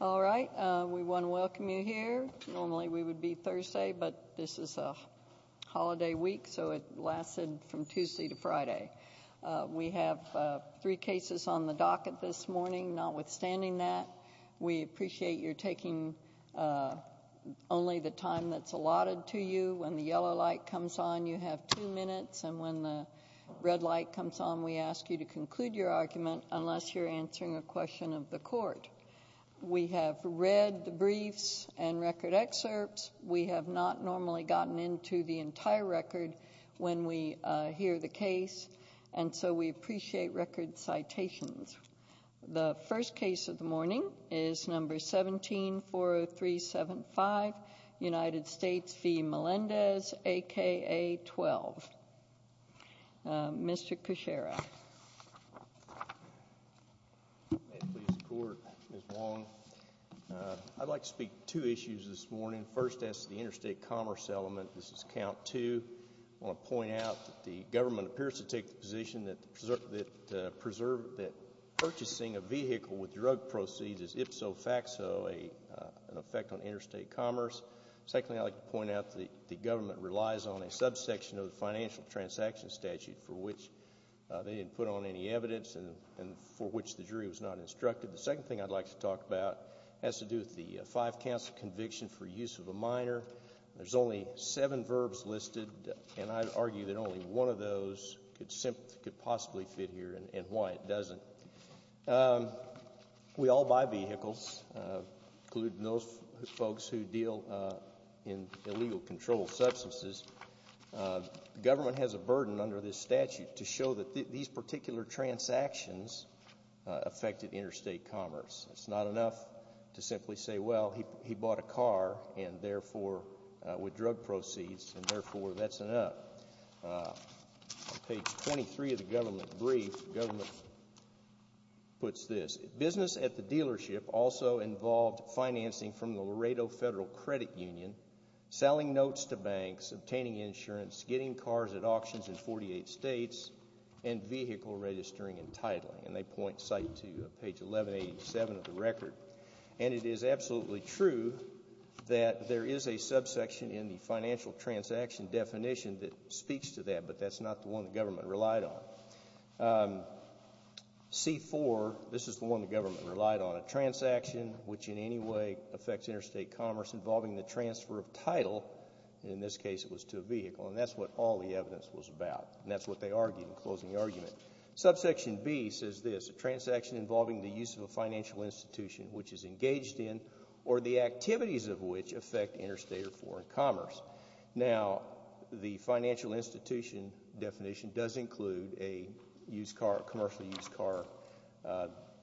All right. We want to welcome you here. Normally we would be Thursday, but this is a holiday week, so it lasted from Tuesday to Friday. We have three cases on the docket this morning. Notwithstanding that, we appreciate you're taking only the time that's allotted to you. When the yellow light comes on, you have two minutes, and when the red light comes on, we ask you to conclude your argument unless you're answering a question of the court. We have read the briefs and record excerpts. We have not normally gotten into the entire record when we hear the case, and so we appreciate record citations. The first case of the morning is No. 17-40375, United States v. Melendez, a.k.a. 12. Mr. Kucera. May it please the Court, Ms. Wong. I'd like to speak to two issues this morning. First, as to the interstate commerce element, this is count two. I want to point out that the government appears to take the position that purchasing a vehicle with drug proceeds is ipso facto an effect on interstate commerce. Secondly, I'd like to point out that the government relies on a subsection of the financial transaction statute for which they didn't put on any evidence and for which the jury was not instructed. The second thing I'd like to talk about has to do with the five-council conviction for use of a minor. There's only seven verbs listed, and I'd argue that only one of those could possibly fit here and why it doesn't. We all buy vehicles, including those folks who deal in illegal controlled substances. The government has a burden under this statute to show that these particular transactions affected interstate commerce. It's not enough to simply say, well, he bought a car with drug proceeds, and therefore that's enough. On page 23 of the government brief, the government puts this. Business at the dealership also involved financing from the Laredo Federal Credit Union, selling notes to banks, obtaining insurance, getting cars at auctions in 48 states, and vehicle registering and titling. And they point site to page 1187 of the record. And it is absolutely true that there is a subsection in the financial transaction definition that speaks to that, but that's not the one the government relied on. C-4, this is the one the government relied on, a transaction which in any way affects interstate commerce involving the transfer of title, in this case it was to a vehicle, and that's what all the evidence was about. And that's what they argued in closing the argument. Subsection B says this, a transaction involving the use of a financial institution which is engaged in or the activities of which affect interstate or foreign commerce. Now, the financial institution definition does include a used car, commercially used car,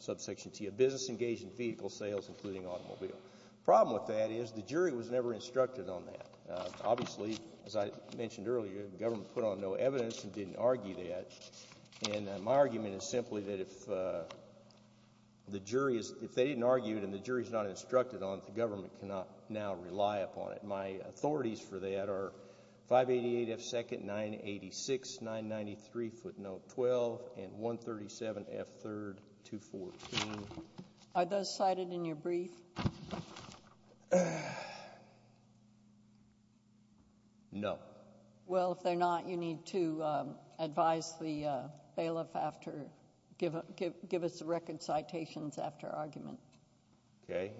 subsection T, a business engaged in vehicle sales including automobile. The problem with that is the jury was never instructed on that. Obviously, as I mentioned earlier, the government put on no evidence and didn't argue that. And my argument is simply that if they didn't argue it and the jury is not instructed on it, the government cannot now rely upon it. My authorities for that are 588F2nd, 986, 993, footnote 12, and 137F3rd, 214. Are those cited in your brief? No. Well, if they're not, you need to advise the bailiff after, give us the record citations after argument. Okay.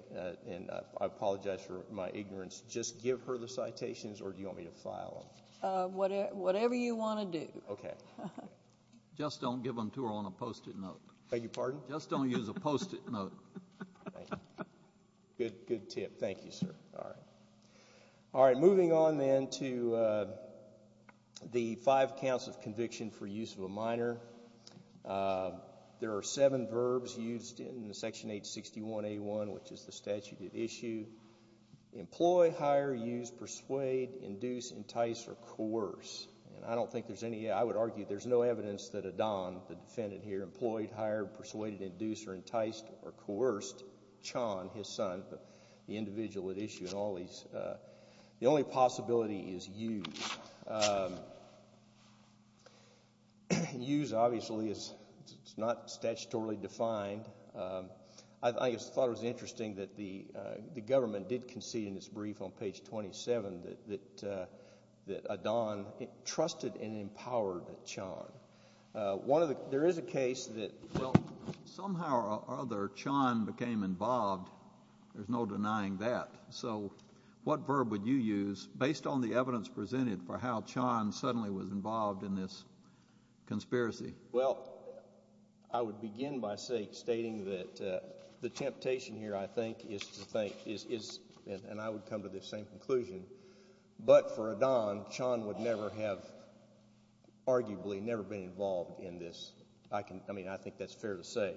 And I apologize for my ignorance. Just give her the citations or do you want me to file them? Whatever you want to do. Okay. Just don't give them to her on a Post-it note. Beg your pardon? Just don't use a Post-it note. Good tip. Thank you, sir. All right. All right, moving on then to the five counts of conviction for use of a minor. There are seven verbs used in Section 861A1, which is the statute at issue. Employ, hire, use, persuade, induce, entice, or coerce. And I don't think there's any, I would argue there's no evidence that Adan, the defendant here, employed, hired, persuaded, induced, or enticed, or coerced, Chon, his son, the individual at issue, and all these. The only possibility is use. Use, obviously, is not statutorily defined. I thought it was interesting that the government did concede in its brief on page 27 that Adan trusted and empowered Chon. There is a case that somehow or other Chon became involved. There's no denying that. So what verb would you use based on the evidence presented for how Chon suddenly was involved in this conspiracy? Well, I would begin by stating that the temptation here, I think, is to think, and I would come to the same conclusion, but for Adan, Chon would never have arguably never been involved in this. I mean, I think that's fair to say.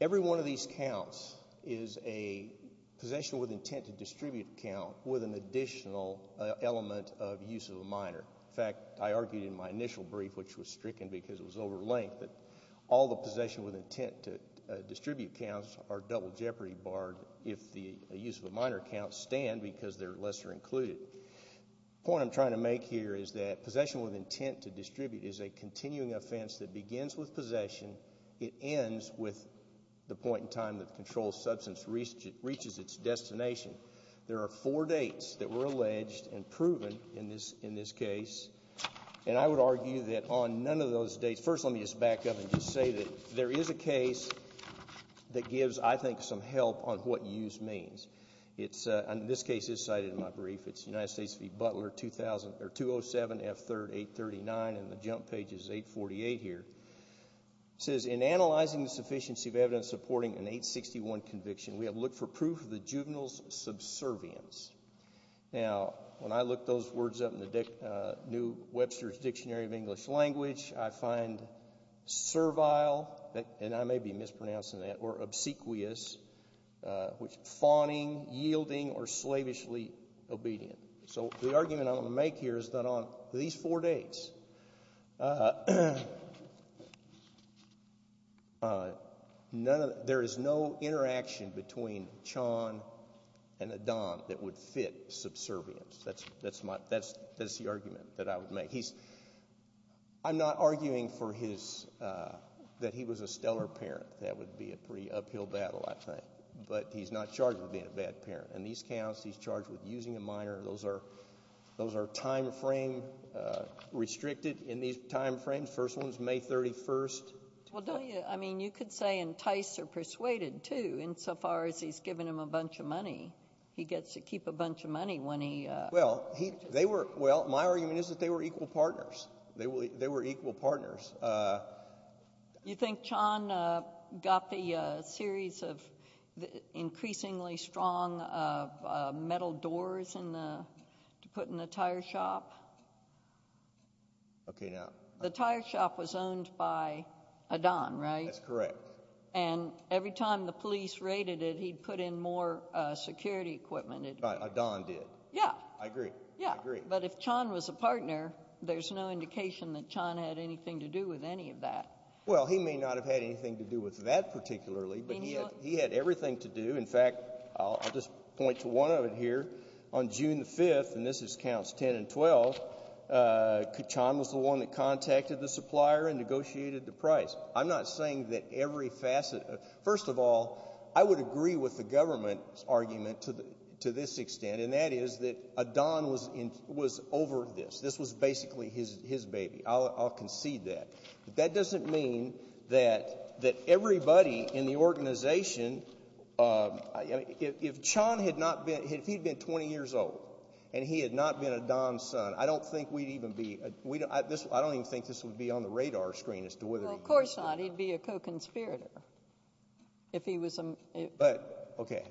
Every one of these counts is a possession with intent to distribute count with an additional element of use of a minor. In fact, I argued in my initial brief, which was stricken because it was over length, that all the possession with intent to distribute counts are double jeopardy barred if the use of a minor count stand because they're lesser included. The point I'm trying to make here is that possession with intent to distribute is a continuing offense that begins with possession. It ends with the point in time that the controlled substance reaches its destination. There are four dates that were alleged and proven in this case, and I would argue that on none of those dates, first let me just back up and just say that there is a case that gives, I think, some help on what use means. This case is cited in my brief. It's United States v. Butler, 207 F. 3rd 839, and the jump page is 848 here. It says, In analyzing the sufficiency of evidence supporting an 861 conviction, we have looked for proof of the juvenile's subservience. Now, when I look those words up in the new Webster's Dictionary of English Language, I find servile, and I may be mispronouncing that, or obsequious, which is fawning, yielding, or slavishly obedient. So the argument I want to make here is that on these four dates, there is no interaction between Chon and Adan that would fit subservience. That's the argument that I would make. I'm not arguing that he was a stellar parent. That would be a pretty uphill battle, I think. But he's not charged with being a bad parent. In these counts, he's charged with using a minor. Those are time frame restricted in these time frames. The first one is May 31st. Well, don't you—I mean, you could say enticed or persuaded, too, insofar as he's given him a bunch of money. He gets to keep a bunch of money when he— Well, they were—well, my argument is that they were equal partners. They were equal partners. You think Chon got the series of increasingly strong metal doors to put in the tire shop? Okay, now— The tire shop was owned by Adan, right? That's correct. And every time the police raided it, he'd put in more security equipment. Right, Adan did. Yeah. I agree. I agree. But if Chon was a partner, there's no indication that Chon had anything to do with any of that. Well, he may not have had anything to do with that particularly, but he had everything to do. In fact, I'll just point to one of it here. On June 5th—and this is counts 10 and 12—Chon was the one that contacted the supplier and negotiated the price. I'm not saying that every facet—first of all, I would agree with the government's argument to this extent, and that is that Adan was over this. This was basically his baby. I'll concede that. But that doesn't mean that everybody in the organization—if Chon had not been—if he had been 20 years old and he had not been Adan's son, I don't think we'd even be—I don't even think this would be on the radar screen as to whether— Well, of course not. He'd be a co-conspirator if he was— But, okay.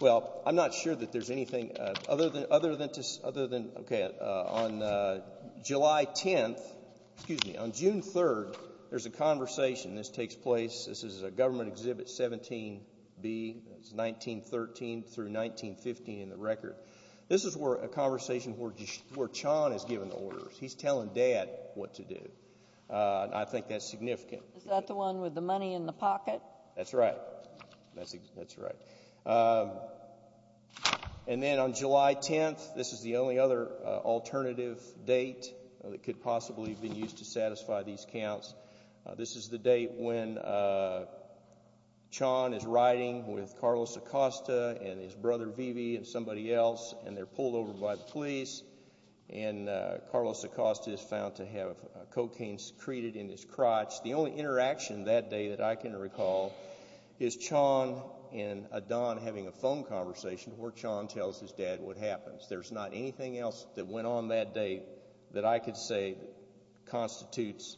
Well, I'm not sure that there's anything other than—okay. On July 10th—excuse me, on June 3rd, there's a conversation. This takes place—this is a government exhibit 17B. It's 1913 through 1915 in the record. This is a conversation where Chon has given orders. He's telling Dad what to do, and I think that's significant. Is that the one with the money in the pocket? That's right. That's right. And then on July 10th, this is the only other alternative date that could possibly have been used to satisfy these counts. This is the date when Chon is riding with Carlos Acosta and his brother Vivi and somebody else, and they're pulled over by the police, and Carlos Acosta is found to have cocaine secreted in his crotch. The only interaction that day that I can recall is Chon and Adon having a phone conversation where Chon tells his dad what happens. There's not anything else that went on that day that I could say constitutes—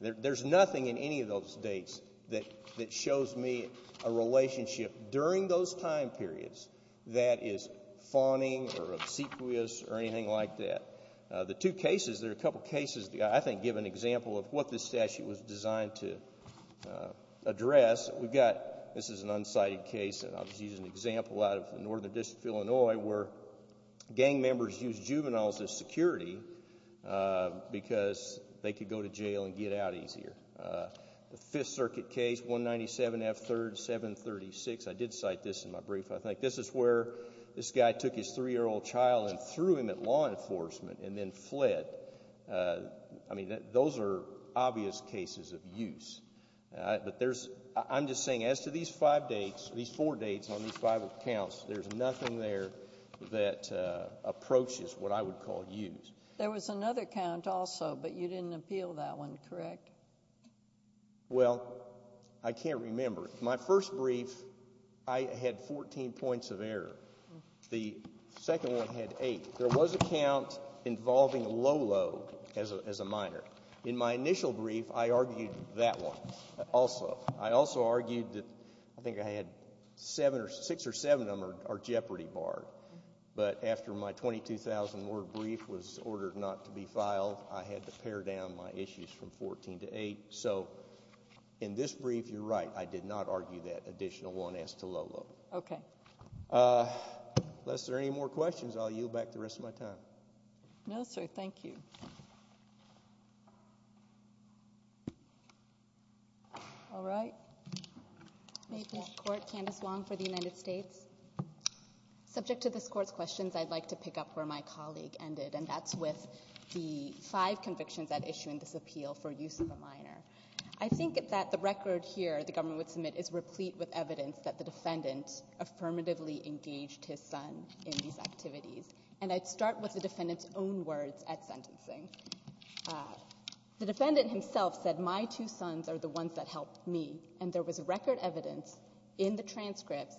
there's nothing in any of those dates that shows me a relationship during those time periods that is fawning or obsequious or anything like that. The two cases, there are a couple of cases that I think give an example of what this statute was designed to address. We've got—this is an unsighted case, and I'll just use an example out of the Northern District of Illinois where gang members used juveniles as security because they could go to jail and get out easier. The Fifth Circuit case, 197 F. 3rd 736, I did cite this in my brief. I think this is where this guy took his 3-year-old child and threw him at law enforcement and then fled. I mean, those are obvious cases of use. But there's—I'm just saying as to these five dates, these four dates on these five accounts, there's nothing there that approaches what I would call use. There was another count also, but you didn't appeal that one, correct? Well, I can't remember. My first brief, I had 14 points of error. The second one had eight. There was a count involving Lolo as a minor. In my initial brief, I argued that one also. I also argued that—I think I had seven or—six or seven of them are jeopardy barred. But after my 22,000-word brief was ordered not to be filed, I had to pare down my issues from 14 to eight. So in this brief, you're right. I did not argue that additional one as to Lolo. Okay. Unless there are any more questions, I'll yield back the rest of my time. No, sir. Thank you. All right. May I please report, Candice Wong for the United States? Subject to this Court's questions, I'd like to pick up where my colleague ended, and that's with the five convictions that issue in this appeal for use of a minor. I think that the record here the government would submit is replete with evidence that the defendant affirmatively engaged his son in these activities. And I'd start with the defendant's own words at sentencing. The defendant himself said, my two sons are the ones that helped me. And there was record evidence in the transcripts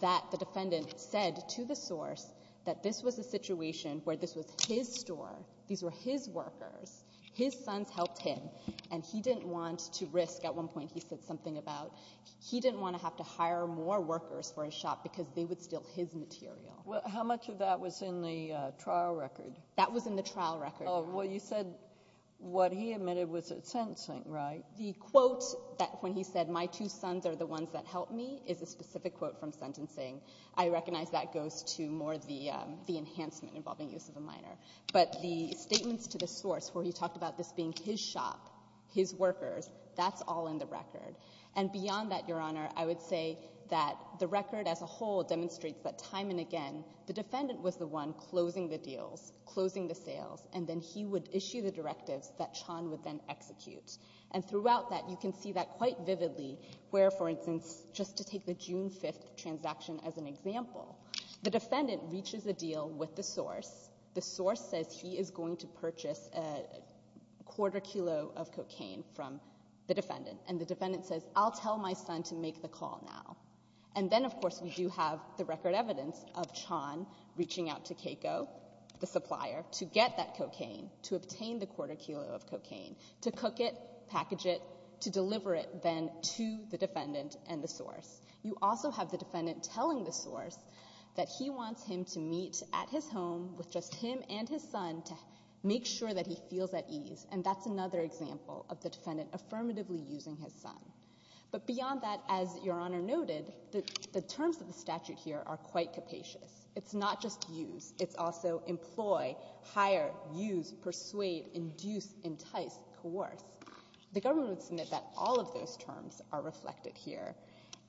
that the defendant said to the source that this was a situation where this was his store, these were his workers, his sons helped him, and he didn't want to risk, at one point he said something about he didn't want to have to hire more workers for his shop because they would steal his material. How much of that was in the trial record? That was in the trial record. Well, you said what he admitted was at sentencing, right? The quote that when he said, my two sons are the ones that helped me, is a specific quote from sentencing. I recognize that goes to more the enhancement involving use of a minor. But the statements to the source where he talked about this being his shop, his workers, that's all in the record. And beyond that, Your Honor, I would say that the record as a whole demonstrates that time and again the defendant was the one closing the deals, closing the sales, and then he would issue the directives that Chan would then execute. And throughout that, you can see that quite vividly where, for instance, just to take the June 5th transaction as an example, the defendant reaches a deal with the source. The source says he is going to purchase a quarter kilo of cocaine from the defendant. And the defendant says, I'll tell my son to make the call now. And then, of course, we do have the record evidence of Chan reaching out to Keiko, the supplier, to get that cocaine, to obtain the quarter kilo of cocaine, to cook it, package it, to deliver it then to the defendant and the source. You also have the defendant telling the source that he wants him to meet at his home with just him and his son to make sure that he feels at ease. And that's another example of the defendant affirmatively using his son. But beyond that, as Your Honor noted, the terms of the statute here are quite capacious. It's not just use. It's also employ, hire, use, persuade, induce, entice, coerce. The government would submit that all of those terms are reflected here.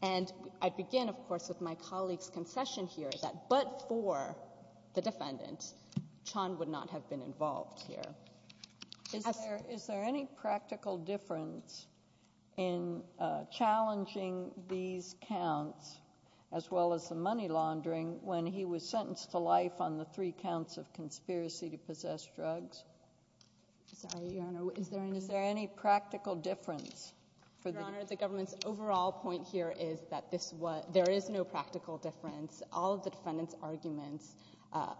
And I begin, of course, with my colleague's concession here that but for the defendant, Chan would not have been involved here. Is there any practical difference in challenging these counts as well as the money laundering when he was sentenced to life on the three counts of conspiracy to possess drugs? Sorry, Your Honor. Is there any practical difference? Your Honor, the government's overall point here is that there is no practical difference. All of the defendant's arguments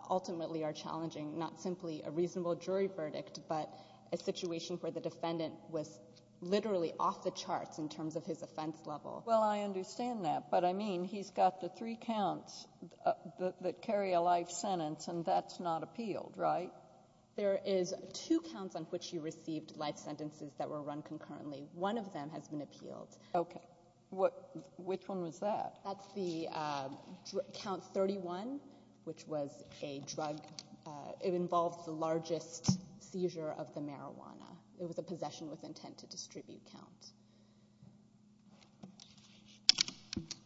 ultimately are challenging not simply a reasonable jury verdict but a situation where the defendant was literally off the charts in terms of his offense level. Well, I understand that. But, I mean, he's got the three counts that carry a life sentence, and that's not appealed, right? There is two counts on which he received life sentences that were run concurrently. One of them has been appealed. Okay. Which one was that? That's the count 31, which was a drug. It involved the largest seizure of the marijuana. It was a possession with intent to distribute counts.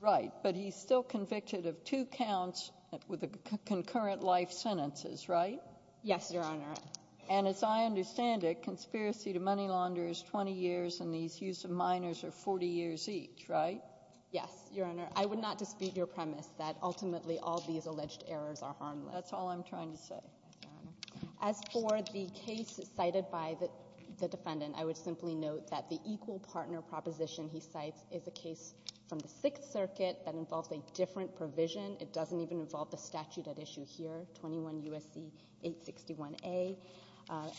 Right. But he's still convicted of two counts with concurrent life sentences, right? Yes, Your Honor. And as I understand it, conspiracy to money launder is 20 years, and these use of minors are 40 years each, right? Yes, Your Honor. I would not dispute your premise that ultimately all these alleged errors are harmless. That's all I'm trying to say. As for the case cited by the defendant, I would simply note that the equal partner proposition he cites is a case from the Sixth Circuit that involves a different provision. It doesn't even involve the statute at issue here, 21 U.S.C. 861A,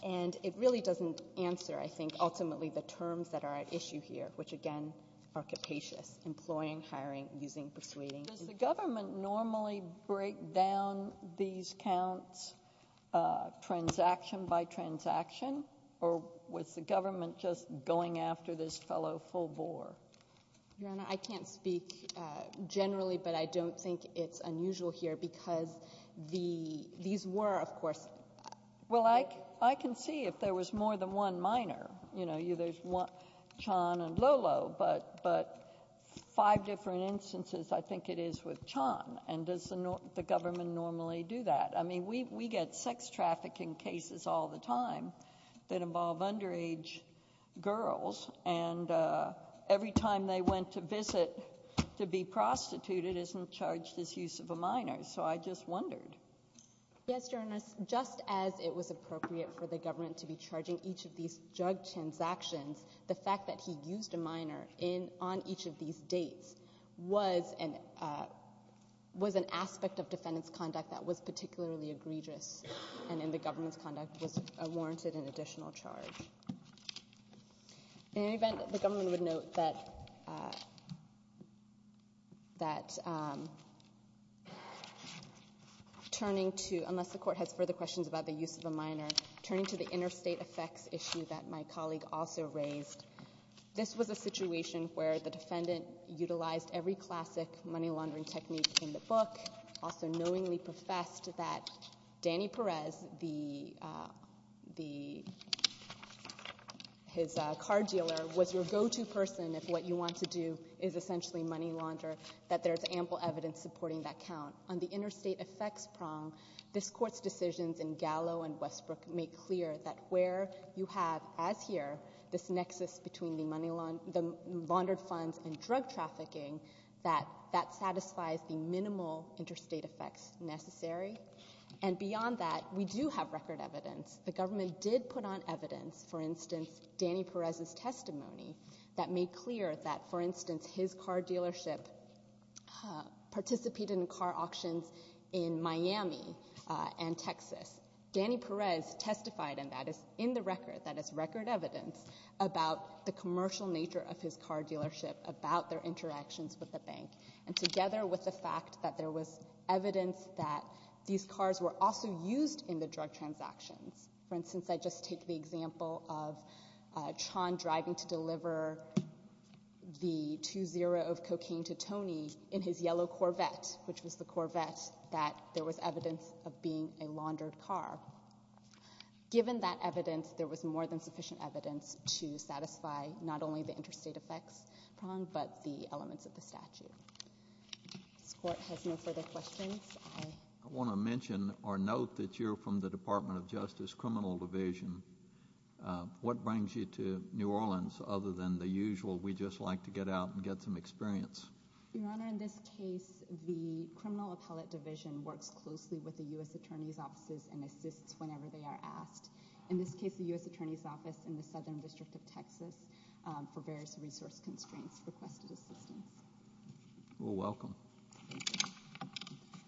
and it really doesn't answer, I think, ultimately the terms that are at issue here, which again are capacious, employing, hiring, using, persuading. Does the government normally break down these counts transaction by transaction, or was the government just going after this fellow full bore? Your Honor, I can't speak generally, but I don't think it's unusual here because these were, of course. Well, I can see if there was more than one minor. You know, there's Chan and Lolo, but five different instances I think it is with Chan, and does the government normally do that? I mean, we get sex trafficking cases all the time that involve underage girls, and every time they went to visit to be prostituted isn't charged as use of a minor. So I just wondered. Yes, Your Honor. Just as it was appropriate for the government to be charging each of these jug transactions, the fact that he used a minor on each of these dates was an aspect of defendant's conduct that was particularly egregious, and in the government's conduct was warranted an additional charge. In any event, the government would note that turning to, unless the court has further questions about the use of a minor, turning to the interstate effects issue that my colleague also raised, this was a situation where the defendant utilized every classic money laundering technique in the book, also knowingly professed that Danny Perez, his car dealer, was your go-to person if what you want to do is essentially money launder, that there's ample evidence supporting that count. On the interstate effects prong, this Court's decisions in Gallo and Westbrook make clear that where you have, as here, this nexus between the money laundered funds and drug trafficking, that that satisfies the minimal interstate effects necessary. And beyond that, we do have record evidence. The government did put on evidence, for instance, Danny Perez's testimony, that made clear that, for instance, his car dealership participated in car auctions in Miami and Texas. Danny Perez testified, and that is in the record, that is record evidence, about the commercial nature of his car dealership, about their interactions with the bank, and together with the fact that there was evidence that these cars were also used in the drug transactions. For instance, I just take the example of Chon driving to deliver the 2-0 of cocaine to Tony in his yellow Corvette, which was the Corvette that there was evidence of being a laundered car. Given that evidence, there was more than sufficient evidence to satisfy not only the interstate effects prong, but the elements of the statute. This Court has no further questions. I want to mention or note that you're from the Department of Justice Criminal Division. What brings you to New Orleans other than the usual, we just like to get out and get some experience? Your Honor, in this case, the Criminal Appellate Division works closely with the U.S. Attorney's Offices and assists whenever they are asked. In this case, the U.S. Attorney's Office in the Southern District of Texas for various resource constraints requested assistance. Well, welcome. Thank you.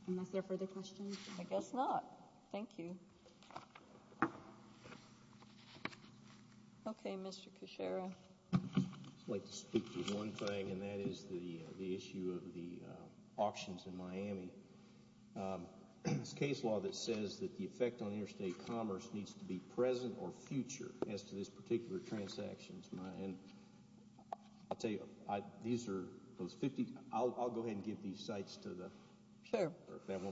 Unless there are further questions? I guess not. Thank you. Okay, Mr. Kucera. I'd like to speak to one thing, and that is the issue of the auctions in Miami. There's a case law that says that the effect on interstate commerce needs to be present or future as to this particular transaction. And I'll tell you, these are those 50—I'll go ahead and give these sites to the— Sure. Okay.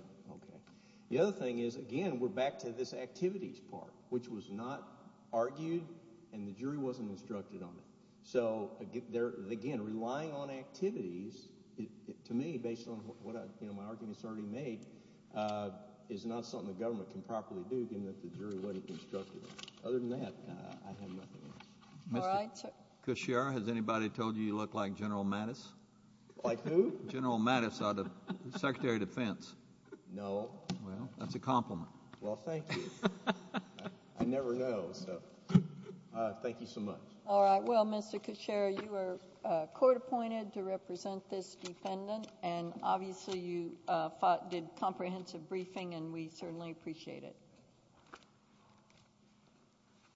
The other thing is, again, we're back to this activities part, which was not argued, and the jury wasn't instructed on it. So, again, relying on activities, to me, based on what my arguments already made, is not something the government can properly do, given that the jury wasn't instructed on it. Other than that, I have nothing else. Mr. Kucera, has anybody told you you look like General Mattis? General Mattis, the Secretary of Defense. No. Well, that's a compliment. Well, thank you. I never know, so thank you so much. All right. Well, Mr. Kucera, you were court appointed to represent this defendant, and obviously you did comprehensive briefing, and we certainly appreciate it.